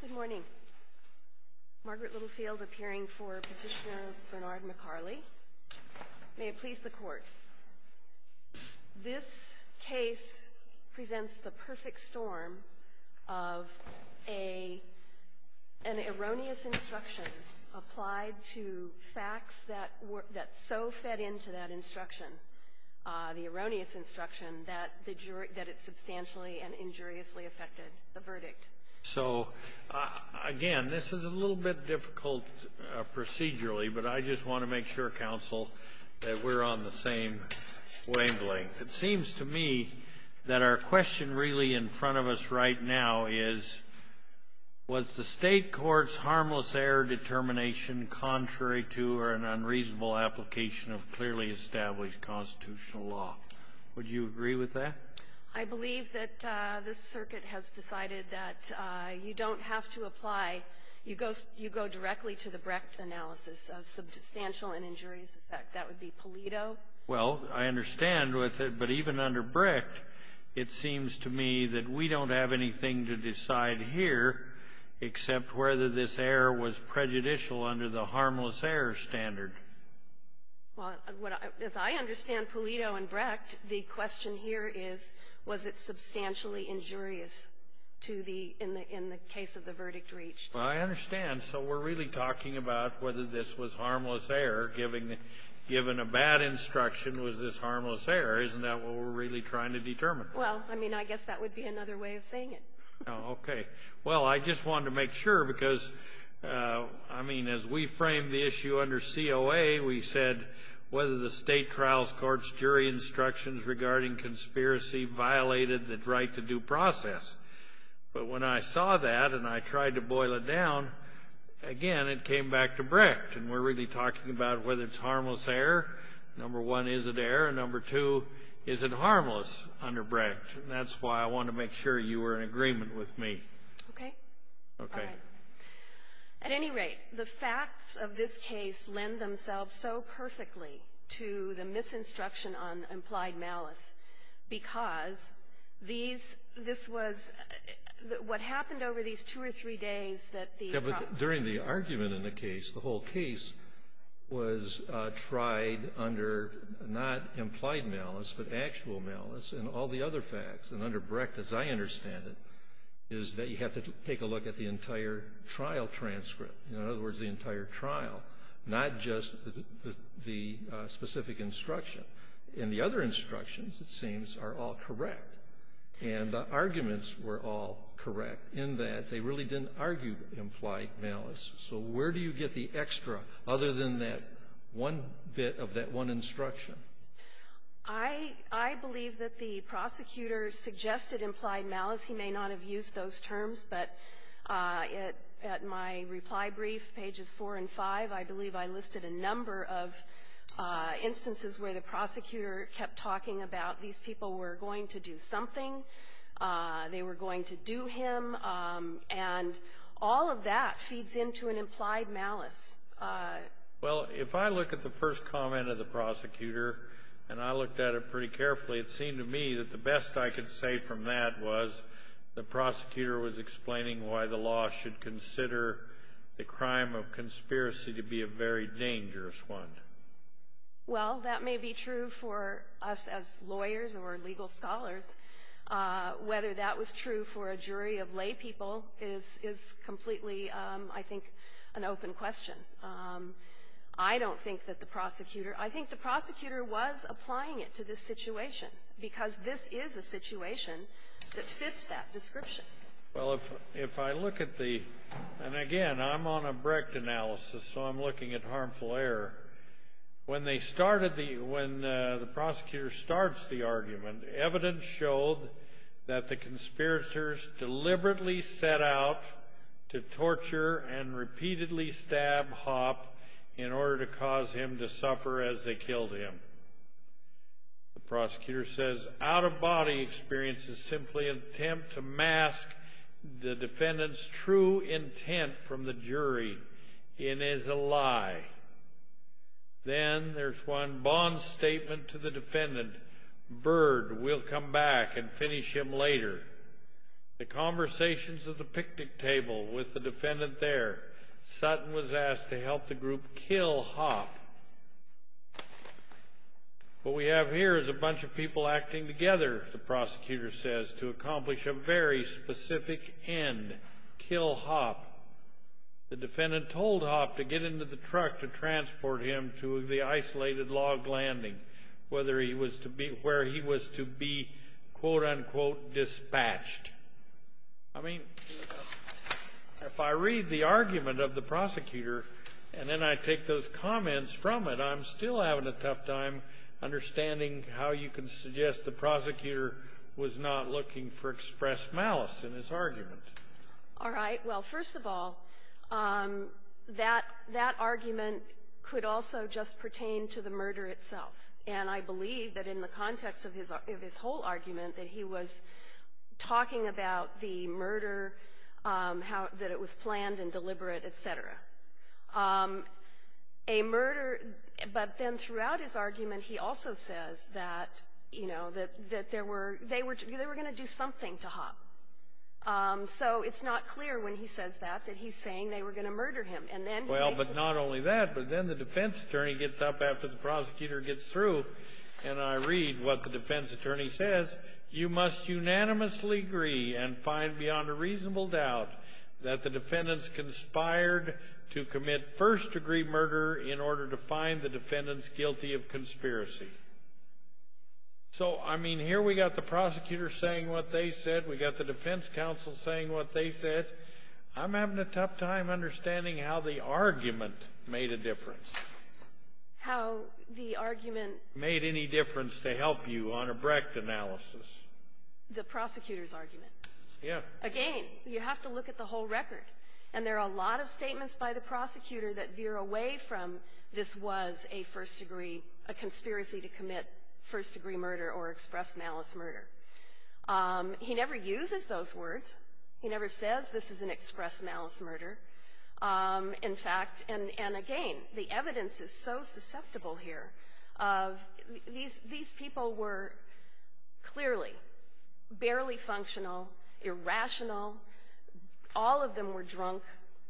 Good morning. Margaret Littlefield appearing for Petitioner Bernard MacCarlie. May it please the Court. This case presents the perfect storm of an erroneous instruction applied to facts that so fed into that instruction, the erroneous instruction, that it substantially and injuriously affected the verdict. So again, this is a little bit difficult procedurally, but I just want to make sure, Counsel, that we're on the same wavelength. It seems to me that our question really in front of us right now is, was the state court's harmless error determination contrary to or an unreasonable application of clearly established constitutional law? Would you agree with that? I believe that this circuit has decided that you don't have to apply. You go directly to the Brecht analysis of substantial and injurious effect. That would be Polito. Well, I understand with it, but even under Brecht, it seems to me that we don't have anything to decide here except whether this error was prejudicial under the harmless error standard. Well, as I understand Polito and Brecht, the question here is, was it substantially injurious to the, in the case of the verdict reached? Well, I understand. So we're really talking about whether this was harmless error, given a bad instruction was this harmless error. Isn't that what we're really trying to determine? Well, I mean, I guess that would be another way of saying it. Okay. Well, I just wanted to make sure because, I mean, as we framed the issue under COA, we said whether the state trials court's jury instructions regarding conspiracy violated the right to due process. But when I saw that and I tried to boil it down, again, it came back to Brecht. And we're really talking about whether it's harmless error. Number one, is it error? Number two, is it harmless under Brecht? And that's why I wanted to make sure you were in agreement with me. Okay. Okay. All right. At any rate, the facts of this case lend themselves so perfectly to the misinstruction on implied malice because these, this was, what happened over these two or three days that the problem. Yeah, but during the argument in the case, the whole case was tried under not implied malice but actual malice and all the other facts. And under Brecht, as I understand it, is that you have to take a look at the entire trial transcript. In other words, the entire trial, not just the specific instruction. And the other instructions, it seems, are all correct. And the arguments were all correct in that they really didn't argue implied malice. So where do you get the extra other than that one bit of that one instruction? I believe that the prosecutor suggested implied malice. He may not have used those in a number of instances where the prosecutor kept talking about these people were going to do something, they were going to do him, and all of that feeds into an implied malice. Well, if I look at the first comment of the prosecutor, and I looked at it pretty carefully, it seemed to me that the best I could say from that was the prosecutor was explaining why the law should consider the crime of conspiracy to be a very dangerous one. Well, that may be true for us as lawyers or legal scholars. Whether that was true for a jury of laypeople is completely, I think, an open question. I don't think that the prosecutor – I think the prosecutor was applying it to this situation, because this is a situation that fits that description. Well, if I look at the – and again, I'm on a Brecht analysis, so I'm looking at harmful error. When they started the – when the prosecutor starts the argument, evidence showed that the conspirators deliberately set out to torture and repeatedly stab Hopp in order to cause him to suffer as they killed him. The prosecutor says, out-of-body experience is simply an attempt to mask the lie. Then, there's one bond statement to the defendant. Bird, we'll come back and finish him later. The conversations at the picnic table with the defendant there. Sutton was asked to help the group kill Hopp. What we have here is a bunch of people acting together, the prosecutor says, to accomplish a very specific end, kill Hopp. The defendant told Hopp to get into the truck to transport him to the isolated log landing, whether he was to be – where he was to be, quote-unquote, dispatched. I mean, if I read the argument of the prosecutor, and then I take those comments from it, I'm still having a tough time understanding how you can suggest the prosecutor was not looking for expressed malice in his argument. All right. Well, first of all, that – that argument could also just pertain to the murder itself. And I believe that in the context of his – of his whole argument, that he was talking about the murder, how – that it was planned and deliberate, et cetera. A murder – but then throughout his argument, he also says that, you know, that – that there were – they were – they were going to do something to Hopp. So it's not clear when he says that, that he's saying they were going to murder him. And then – Well, but not only that, but then the defense attorney gets up after the prosecutor gets through, and I read what the defense attorney says. He says, you must unanimously agree and find beyond a reasonable doubt that the defendants conspired to commit first-degree murder in order to find the defendants guilty of conspiracy. So I mean, here we got the prosecutor saying what they said. We got the defense counsel saying what they said. I'm having a tough time understanding how the argument made a difference. How the argument – Made any difference to help you on a Brecht analysis? The prosecutor's argument. Yeah. Again, you have to look at the whole record. And there are a lot of statements by the prosecutor that veer away from this was a first-degree – a conspiracy to commit first-degree murder or express malice murder. He never uses those words. He never says this is an express malice murder, in fact. And again, the evidence is so susceptible here. These people were clearly barely functional, irrational. All of them were drunk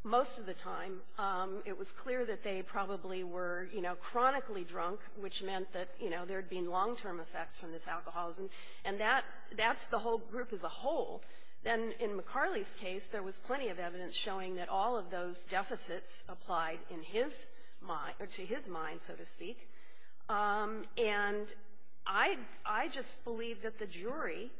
most of the time. It was clear that they probably were, you know, chronically drunk, which meant that, you know, there had been long-term effects from this alcoholism. And that's the whole group as a whole. Then in McCarley's case, there was plenty of evidence showing that all of those deficits applied in his mind – or to his mind, so to speak. And I just believe that the jury,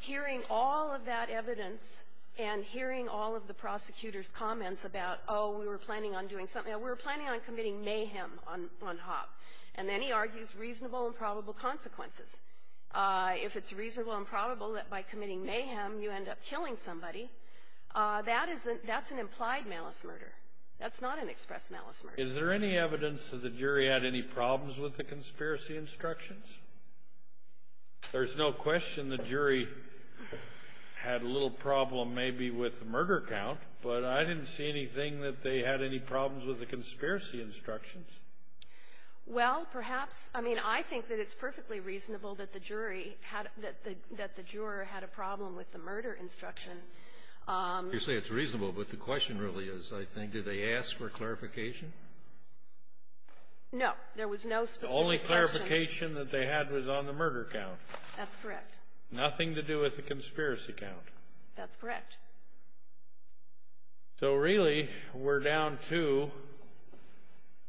hearing all of that evidence and hearing all of the prosecutor's comments about, oh, we were planning on doing something – we were planning on committing mayhem on Hopp. And then he argues reasonable and probable consequences. If it's reasonable and probable that by committing mayhem you end up killing somebody, that's an implied malice murder. That's not an express malice murder. Is there any evidence that the jury had any problems with the conspiracy instructions? There's no question the jury had a little problem maybe with the murder count, but I didn't see anything that they had any problems with the conspiracy instructions. Well, perhaps. I mean, I think that it's perfectly reasonable that the jury had – that the juror had a problem with the murder instruction. You say it's reasonable, but the question really is, I think, did they ask for clarification? No. There was no specific question. The only clarification that they had was on the murder count. That's correct. Nothing to do with the conspiracy count. That's correct. So, really, we're down two.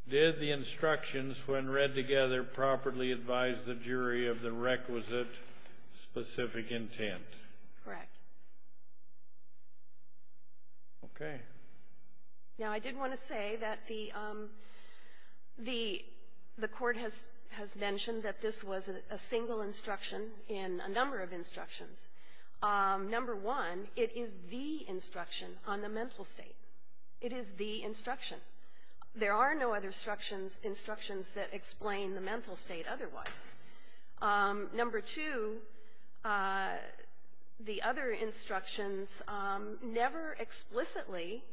Did the instructions, when read together, properly advise the jury of the requisite, specific intent? Correct. Okay. Now, I did want to say that the – the court has mentioned that this was a single instruction in a number of instructions. Number one, it is the instruction on the mental state. It is the instruction. There are no other instructions that explain the mental state otherwise. Number two, the other instructions never explicitly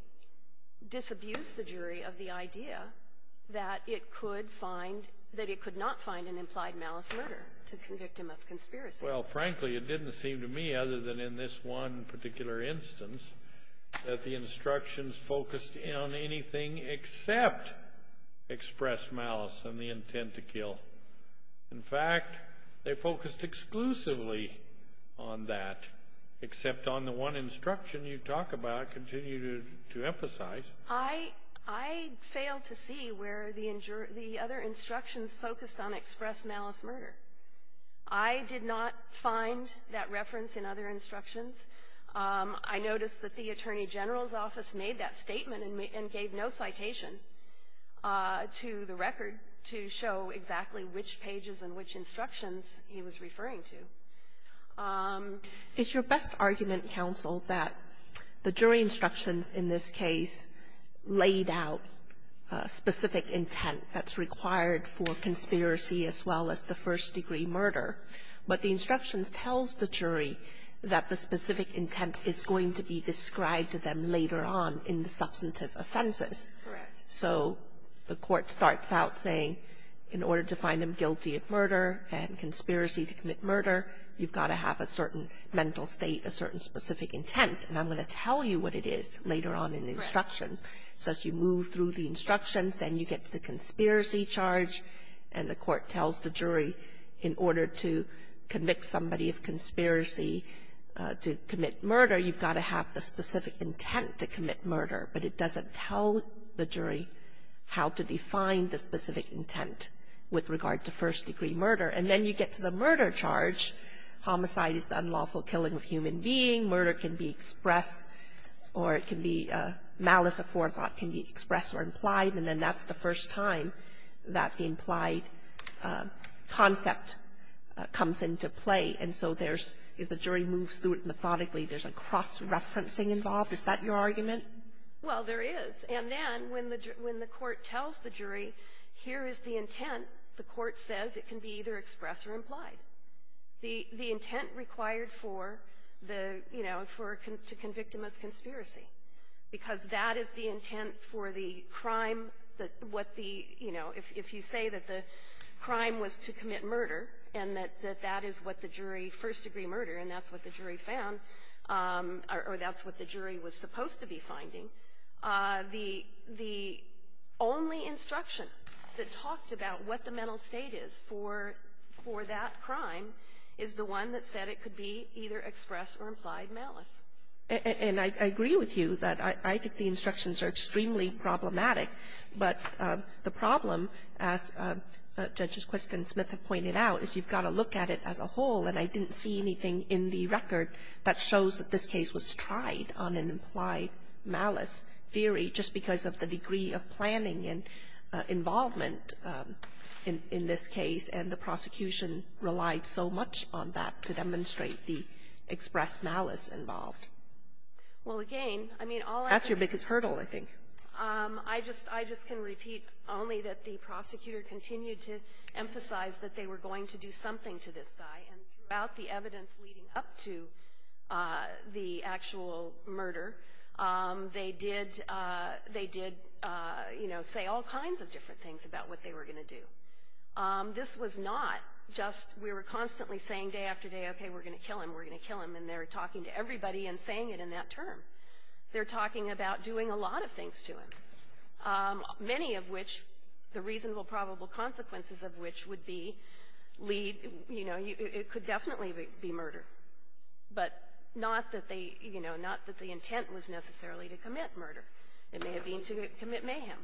disabuse the jury of the idea that it could find – that it could not find an implied malice murder to convict him of conspiracy. Well, frankly, it didn't seem to me, other than in this one particular instance, that the instructions focused on anything except express malice and the intent to kill. In fact, they focused exclusively on that, except on the one instruction you talk about and continue to emphasize. I failed to see where the other instructions focused on express malice murder. I did not find that reference in other instructions. I noticed that the Attorney General's office made that statement and gave no citation to the record to show exactly which pages and which instructions he was referring to. It's your best argument, counsel, that the jury instructions in this case laid out a specific intent that's required for conspiracy as well as the first-degree murder, but the instructions tells the jury that the specific intent is going to be described to them later on in the substantive offenses. Correct. So the court starts out saying, in order to find him guilty of murder and conspiracy to commit murder, you've got to have a certain mental state, a certain specific intent, and I'm going to tell you what it is later on in the instructions. Correct. So as you move through the instructions, then you get to the conspiracy charge, and the court tells the jury in order to convict somebody of conspiracy to commit murder, you've got to have the specific intent to commit murder. But it doesn't tell the jury how to define the specific intent with regard to first-degree murder, and then you get to the murder charge. Homicide is the unlawful killing of a human being. Murder can be expressed, or it can be malice of forethought can be expressed or implied, and then that's the first time that the implied concept comes into play. And so there's the jury moves through it methodically. There's a cross-referencing involved. Is that your argument? Well, there is. And then when the court tells the jury, here is the intent, the court says it can be either expressed or implied, the intent required for the, you know, to convict him of conspiracy, because that is the intent for the crime, what the, you know, if you say that the crime was to commit murder, and that that is what the jury first-degree murder, and that's what the jury found, or that's what the jury was supposed to be finding, the only instruction that talked about what the mental state is for that crime is the one that said it could be either expressed or implied malice. And I agree with you that I think the instructions are extremely problematic. But the problem, as Judges Quist and Smith have pointed out, is you've got to look at it as a whole. And I didn't see anything in the record that shows that this case was tried on an implied malice theory, just because of the degree of planning and involvement in this case, and the prosecution relied so much on that to demonstrate the expressed malice involved. Well, again, I mean, all I can say to you is that the prosecutor continued to emphasize that they were going to do something to this guy. And throughout the evidence leading up to the actual murder, they did, you know, say all kinds of different things about what they were going to do. This was not just we were constantly saying day after day, okay, we're going to kill him, we're going to kill him, and they're talking to everybody and saying it in that term. They're talking about doing a lot of things to him, many of which, the reasonable probable consequences of which would be lead, you know, it could definitely be murder, but not that they, you know, not that the intent was necessarily to commit murder. It may have been to commit mayhem.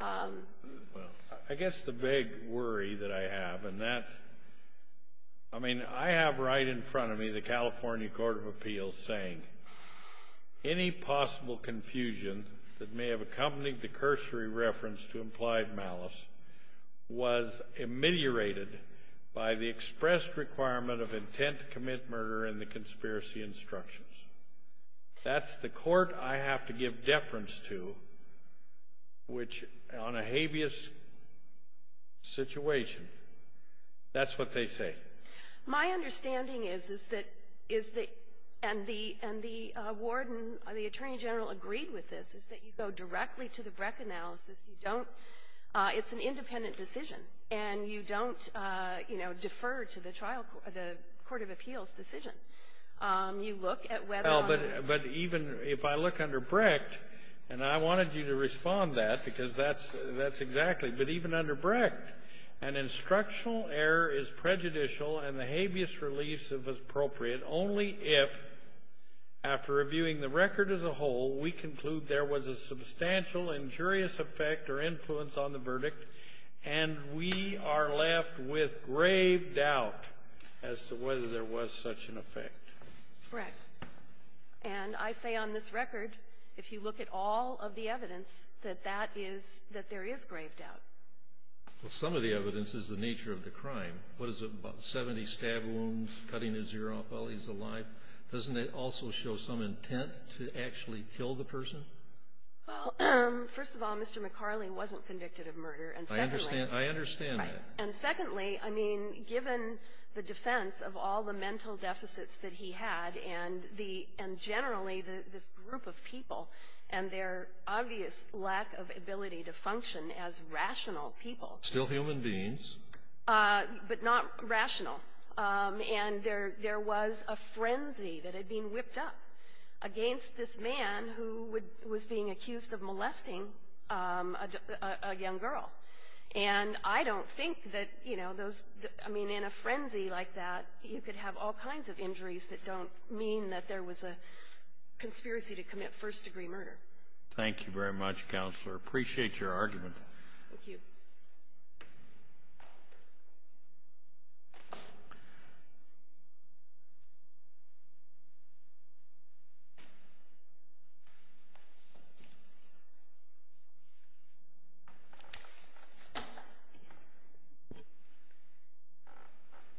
Well, I guess the big worry that I have, and that, I mean, I have right in front of me the California Court of Appeals saying any possible confusion that may have accompanied the cursory reference to implied malice was ameliorated by the expressed requirement of intent to commit murder in the conspiracy instructions. That's the court I have to give deference to, which on a habeas situation, that's what they say. My understanding is, is that, is that, and the, and the warden, the attorney general agreed with this, is that you go directly to the Brecht analysis. You don't, it's an independent decision, and you don't, you know, defer to the trial, the court of appeals decision. You look at whether or not. Well, but even if I look under Brecht, and I wanted you to respond to that because that's exactly, but even under Brecht, an instructional error is prejudicial and the habeas reliefs, if appropriate, only if, after reviewing the record as a whole, we conclude there was a substantial injurious effect or influence on the verdict, and we are left with grave doubt as to whether there was such an effect. Correct. And I say on this record, if you look at all of the evidence, that that is, that there is grave doubt. Well, some of the evidence is the nature of the crime. What is it, about 70 stab wounds, cutting his ear off while he's alive? Doesn't it also show some intent to actually kill the person? Well, first of all, Mr. McCarley wasn't convicted of murder, and secondly. I understand, I understand that. Right. And secondly, I mean, given the defense of all the mental deficits that he had, and the, and generally this group of people, and their obvious lack of ability to function as rational people. Still human beings. But not rational. And there was a frenzy that had been whipped up against this man who was being accused of molesting a young girl. And I don't think that, you know, those, I mean, in a frenzy like that, you could have all kinds of injuries that don't mean that there was a conspiracy to commit first-degree murder. Thank you very much, Counselor. Appreciate your argument. Thank you.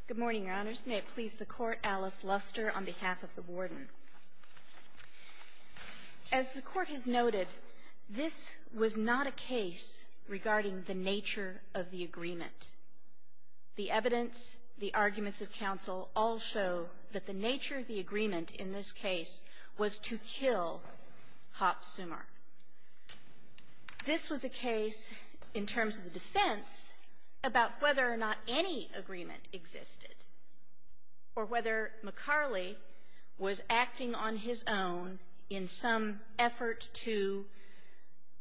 Good morning, Your Honors. May it please the Court, Alice Luster on behalf of the Warden. As the Court has noted, this was not a case regarding the nature of the agreement. The evidence, the arguments of counsel all show that the nature of the agreement in this case was to kill Hopp Summar. This was a case, in terms of the defense, about whether or not any agreement existed, or whether McCarley was acting on his own in some effort to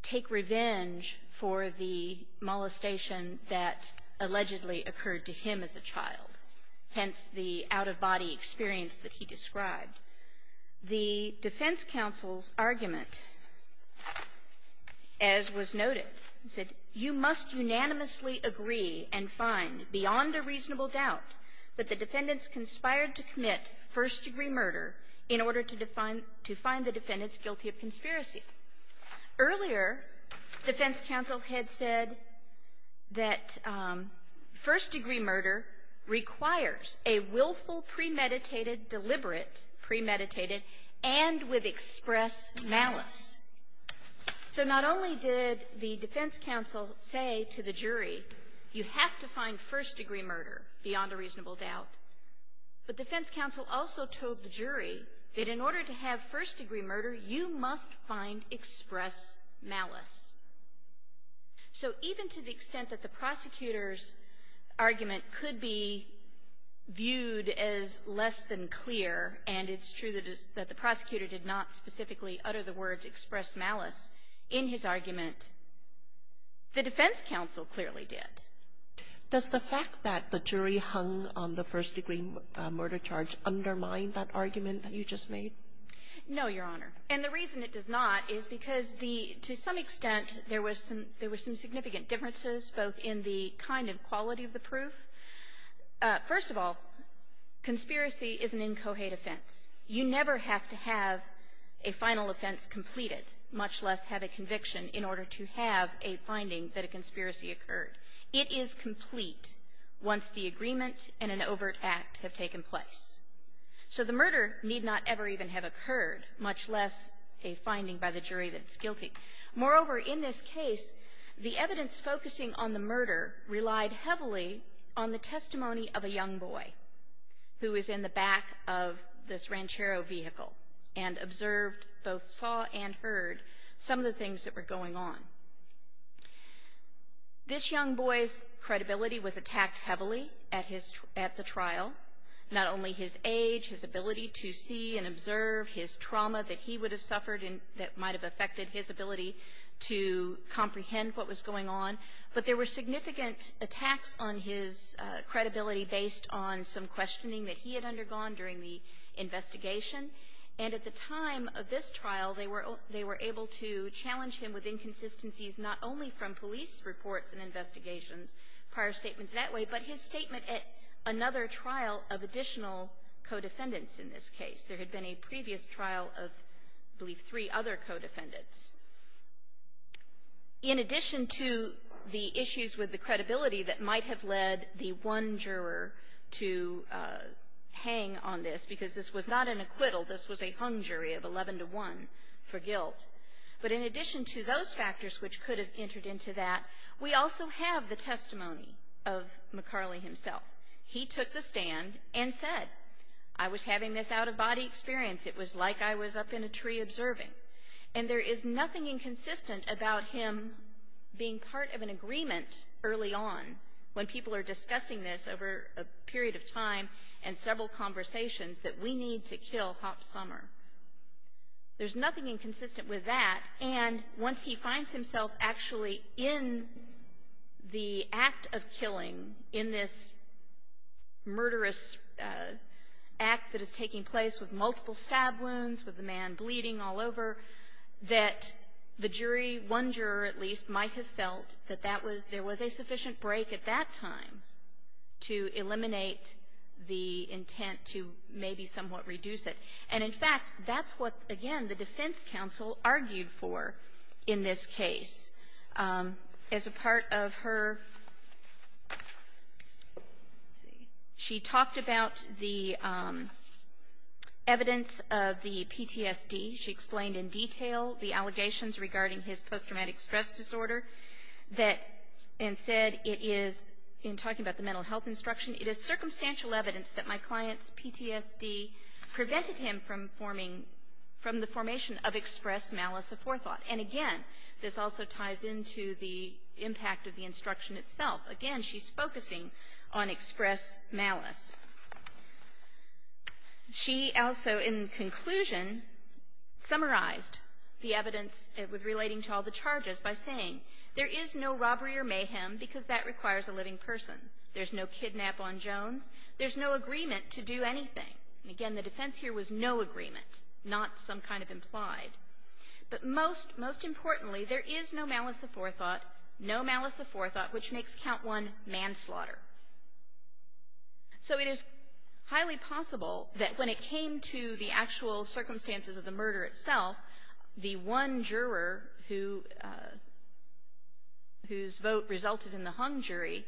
take revenge for the molestation that allegedly occurred to him as a child, hence the out-of-body experience that he described. The defense counsel's argument, as was noted, said, you must unanimously agree and find beyond a reasonable doubt that the defendants conspired to commit first-degree murder in order to find the defendants guilty of conspiracy. Earlier, defense counsel had said that first-degree murder requires a willful premeditated deliberate premeditated and with express malice. So not only did the defense counsel say to the jury, you have to find first-degree murder beyond a reasonable doubt, but defense counsel also told the jury that in order to have first-degree murder, you must find express malice. So even to the extent that the prosecutor's argument could be viewed as less than clear, and it's true that the prosecutor did not specifically utter the words express malice in his argument, the defense counsel clearly did. Kagan. Does the fact that the jury hung on the first-degree murder charge undermine that argument that you just made? No, Your Honor. And the reason it does not is because the to some extent there was some significant differences, both in the kind of quality of the proof. First of all, conspiracy is an incohate offense. You never have to have a final offense completed, much less have a conviction in order to have a finding that a conspiracy occurred. It is complete once the agreement and an overt act have taken place. So the murder need not ever even have occurred, much less a finding by the jury that it's guilty. Moreover, in this case, the evidence focusing on the murder relied heavily on the testimony of a young boy who was in the back of this Ranchero vehicle and observed, both saw and heard, some of the things that were going on. This young boy's credibility was attacked heavily at the trial, not only his age, his ability to see and observe, his trauma that he would have suffered that might have affected his ability to comprehend what was going on. But there were significant attacks on his credibility based on some questioning that he had undergone during the investigation. And at the time of this trial, they were able to challenge him with inconsistencies not only from police reports and investigations, prior statements that way, but his statement at another trial of additional co-defendants in this case. There had been a previous trial of, I believe, three other co-defendants. In addition to the issues with the credibility that might have led the one juror to hang on this, because this was not an acquittal, this was a hung jury of 11 to 1 for guilt, but in addition to those factors which could have entered into that, we also have the testimony of McCarley himself. He took the stand and said, I was having this out-of-body experience. It was like I was up in a tree observing. And there is nothing inconsistent about him being part of an agreement early on, when people are discussing this over a period of time and several conversations, that we need to kill Hopp Sommer. There's nothing inconsistent with that. And once he finds himself actually in the act of killing, in this murderous act that is taking place with multiple stab wounds, with the man bleeding all over, that the jury, one juror at least, might have felt that that was there was a sufficient break at that time to eliminate the intent to maybe somewhat reduce it. And in fact, that's what, again, the defense counsel argued for in this case. As a part of her, let's see, she talked about the evidence of the PTSD. She explained in detail the allegations regarding his post-traumatic stress disorder that, and said it is, in talking about the mental health instruction, it is circumstantial evidence that my client's PTSD prevented him from forming, from the formation of express malice aforethought. And again, this also ties into the impact of the instruction itself. Again, she's focusing on express malice. She also, in conclusion, summarized the evidence relating to all the charges by saying, there is no robbery or mayhem because that requires a living person. There's no kidnap on Jones. There's no agreement to do anything. And again, the defense here was no agreement, not some kind of implied. But most, most importantly, there is no malice aforethought, no malice aforethought, which makes count one manslaughter. So it is highly possible that when it came to the actual circumstances of the murder itself, the one juror whose vote resulted in the hung jury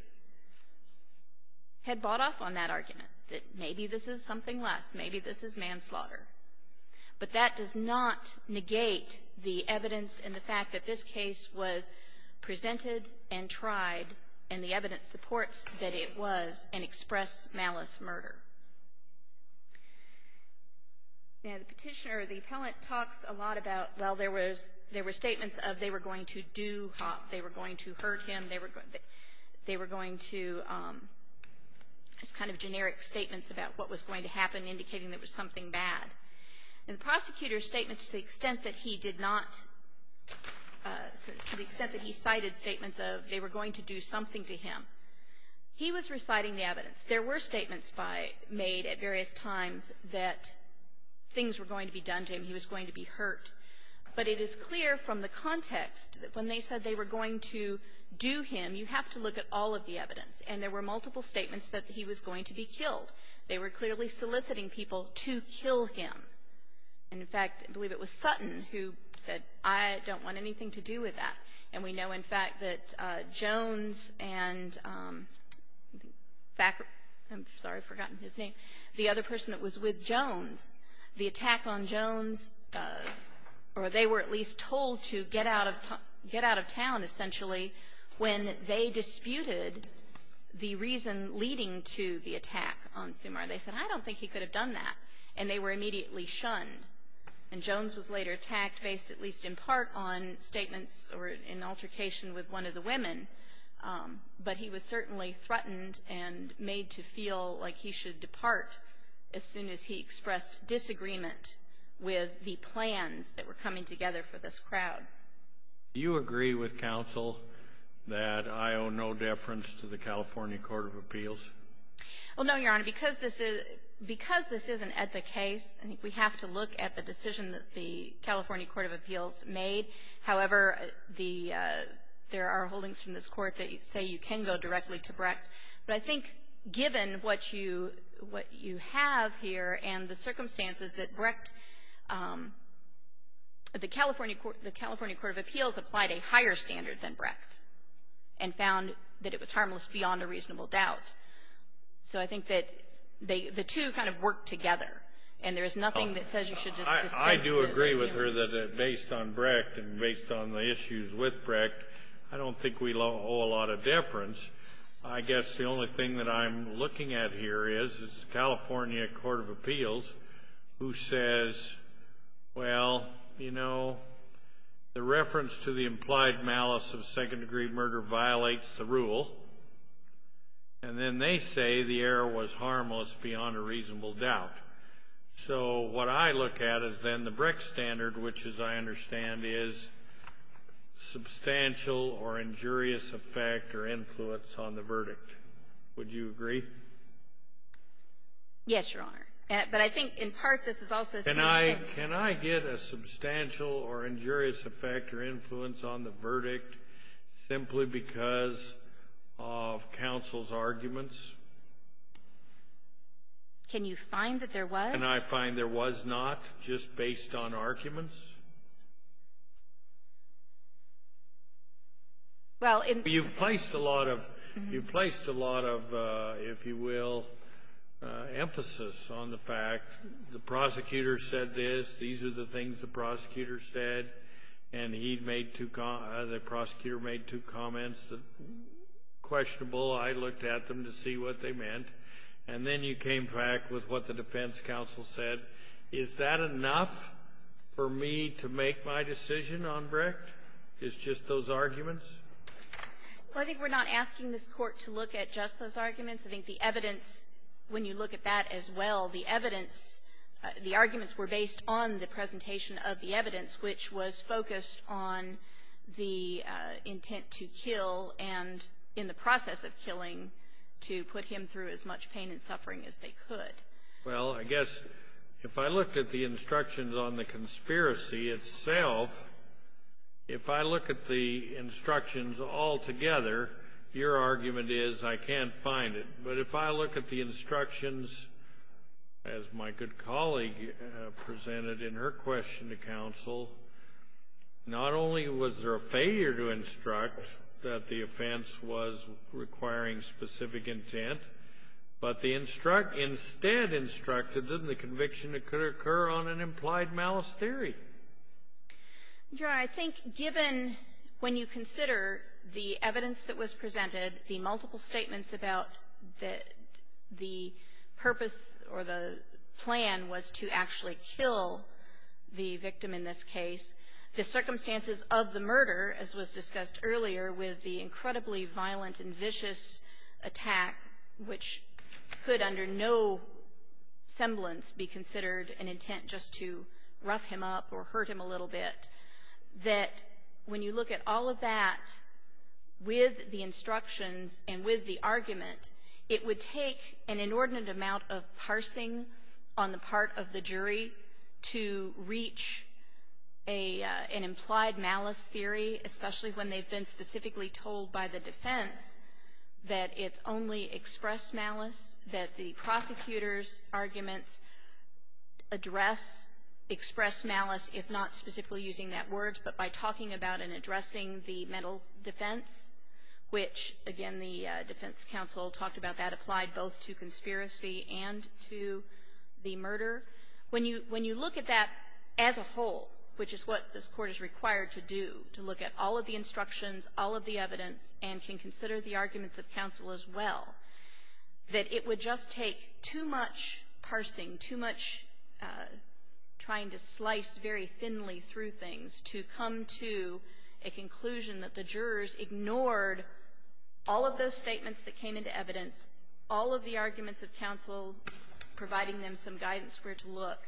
had bought off on that argument, that maybe this is something less. Maybe this is manslaughter. But that does not negate the evidence and the fact that this case was presented and tried, and the evidence supports that it was an express malice murder. Now, the Petitioner, the appellant, talks a lot about, well, there was, there were statements of they were going to do harm. They were going to hurt him. They were going to, just kind of generic statements about what was going to happen, indicating there was something bad. And the prosecutor's statement to the extent that he did not, to the extent that he cited statements of, they were going to do something to him. He was reciting the evidence. There were statements made at various times that things were going to be done to him. He was going to be hurt. But it is clear from the context that when they said they were going to do him, you have to look at all of the evidence. And there were multiple statements that he was going to be killed. They were clearly soliciting people to kill him. And, in fact, I believe it was Sutton who said, I don't want anything to do with that. And we know, in fact, that Jones and back, I'm sorry, I've forgotten his name, the other person that was with Jones, the attack on Jones, or they were at least told to get out of town, essentially, when they disputed the reason leading to the attack on Sumar. They said, I don't think he could have done that. And they were immediately shunned. And Jones was later attacked based at least in part on statements or an altercation with one of the women. But he was certainly threatened and made to feel like he should depart as soon as he expressed disagreement with the plans that were coming together for this crowd. Do you agree with counsel that I owe no deference to the California Court of Appeals? Well, no, Your Honor. Your Honor, because this is an epic case, I think we have to look at the decision that the California Court of Appeals made. However, there are holdings from this Court that say you can go directly to Brecht. But I think given what you have here and the circumstances that Brecht, the California Court of Appeals applied a higher standard than Brecht and found that it was harmless beyond a reasonable doubt. So I think that the two kind of work together. And there is nothing that says you should just dismiss it. I do agree with her that based on Brecht and based on the issues with Brecht, I don't think we owe a lot of deference. I guess the only thing that I'm looking at here is the California Court of Appeals, who says, well, you know, the reference to the implied malice of second-degree murder violates the rule. And then they say the error was harmless beyond a reasonable doubt. So what I look at is then the Brecht standard, which, as I understand, is substantial or injurious effect or influence on the verdict. Would you agree? Yes, Your Honor. But I think in part, this is also saying that the verdict is harmless beyond a reasonable doubt because of counsel's arguments. Can you find that there was? And I find there was not, just based on arguments. Well, in the ---- You've placed a lot of emphasis on the fact the prosecutor said this, these are the arguments that are questionable. I looked at them to see what they meant. And then you came back with what the defense counsel said. Is that enough for me to make my decision on Brecht? It's just those arguments? Well, I think we're not asking this Court to look at just those arguments. I think the evidence, when you look at that as well, the evidence, the arguments were based on the presentation of the evidence, which was focused on the intent to kill and in the process of killing to put him through as much pain and suffering as they could. Well, I guess if I looked at the instructions on the conspiracy itself, if I look at the instructions altogether, your argument is I can't find it. But if I look at the instructions, as my good colleague presented in her question to counsel, not only was there a failure to instruct that the offense was requiring specific intent, but the instruct ---- instead instructed them the conviction that could occur on an implied malice theory. Your Honor, I think given when you consider the evidence that was presented, the multiple statements about the purpose or the plan was to actually kill the victim in this case, the circumstances of the murder, as was discussed earlier with the incredibly violent and vicious attack, which could under no semblance be considered an intent just to rough him up or hurt him a little bit, that when you look at all of that with the instructions and with the argument, it would take an inordinate amount of parsing on the part of the jury to reach an implied malice theory, especially when they've been specifically told by the defense that it's only express malice, that the prosecutor's arguments address express malice, if not specifically using that word, but by talking about and addressing the mental defense, which, again, the defense counsel talked about that applied both to conspiracy and to the murder. When you look at that as a whole, which is what this Court is required to do, to look at all of the instructions, all of the evidence, and can consider the arguments of counsel as well, that it would just take too much parsing, too much trying to slice very thinly through things to come to a conclusion that the jurors ignored all of those statements that came into evidence, all of the arguments of counsel, providing them some guidance where to look,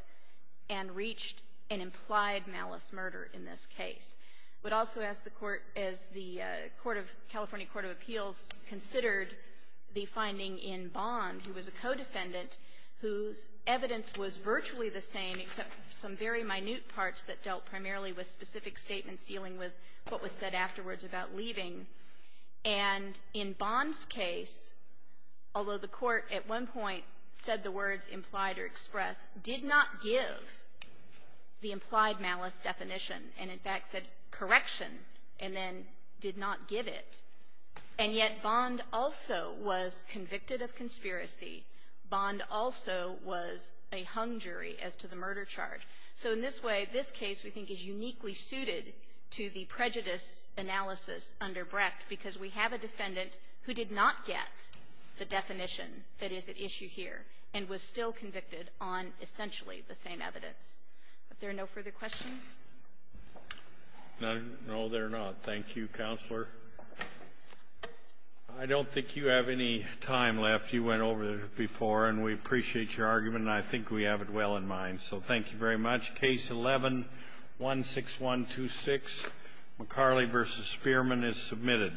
and reached an implied malice murder in this case. I would also ask the Court, as the California Court of Appeals considered the finding in Bond, who was a co-defendant, whose evidence was virtually the same, except some very minute parts that dealt primarily with specific statements dealing with what was said afterwards about leaving, and in Bond's case, although the Court at one point said the words implied or expressed, did not give the implied malice definition and, in fact, said correction, and then did not give it. And yet Bond also was convicted of conspiracy. Bond also was a hung jury as to the murder charge. So in this way, this case, we think, is uniquely suited to the prejudice analysis under Brecht, because we have a defendant who did not get the definition that is at issue here, and was still convicted on essentially the same evidence. Are there no further questions? No, there are not. Thank you, Counselor. I don't think you have any time left. You went over it before, and we appreciate your argument, and I think we have it well in mind. So thank you very much. Case 11-16126, McCarley v. Spearman, is submitted.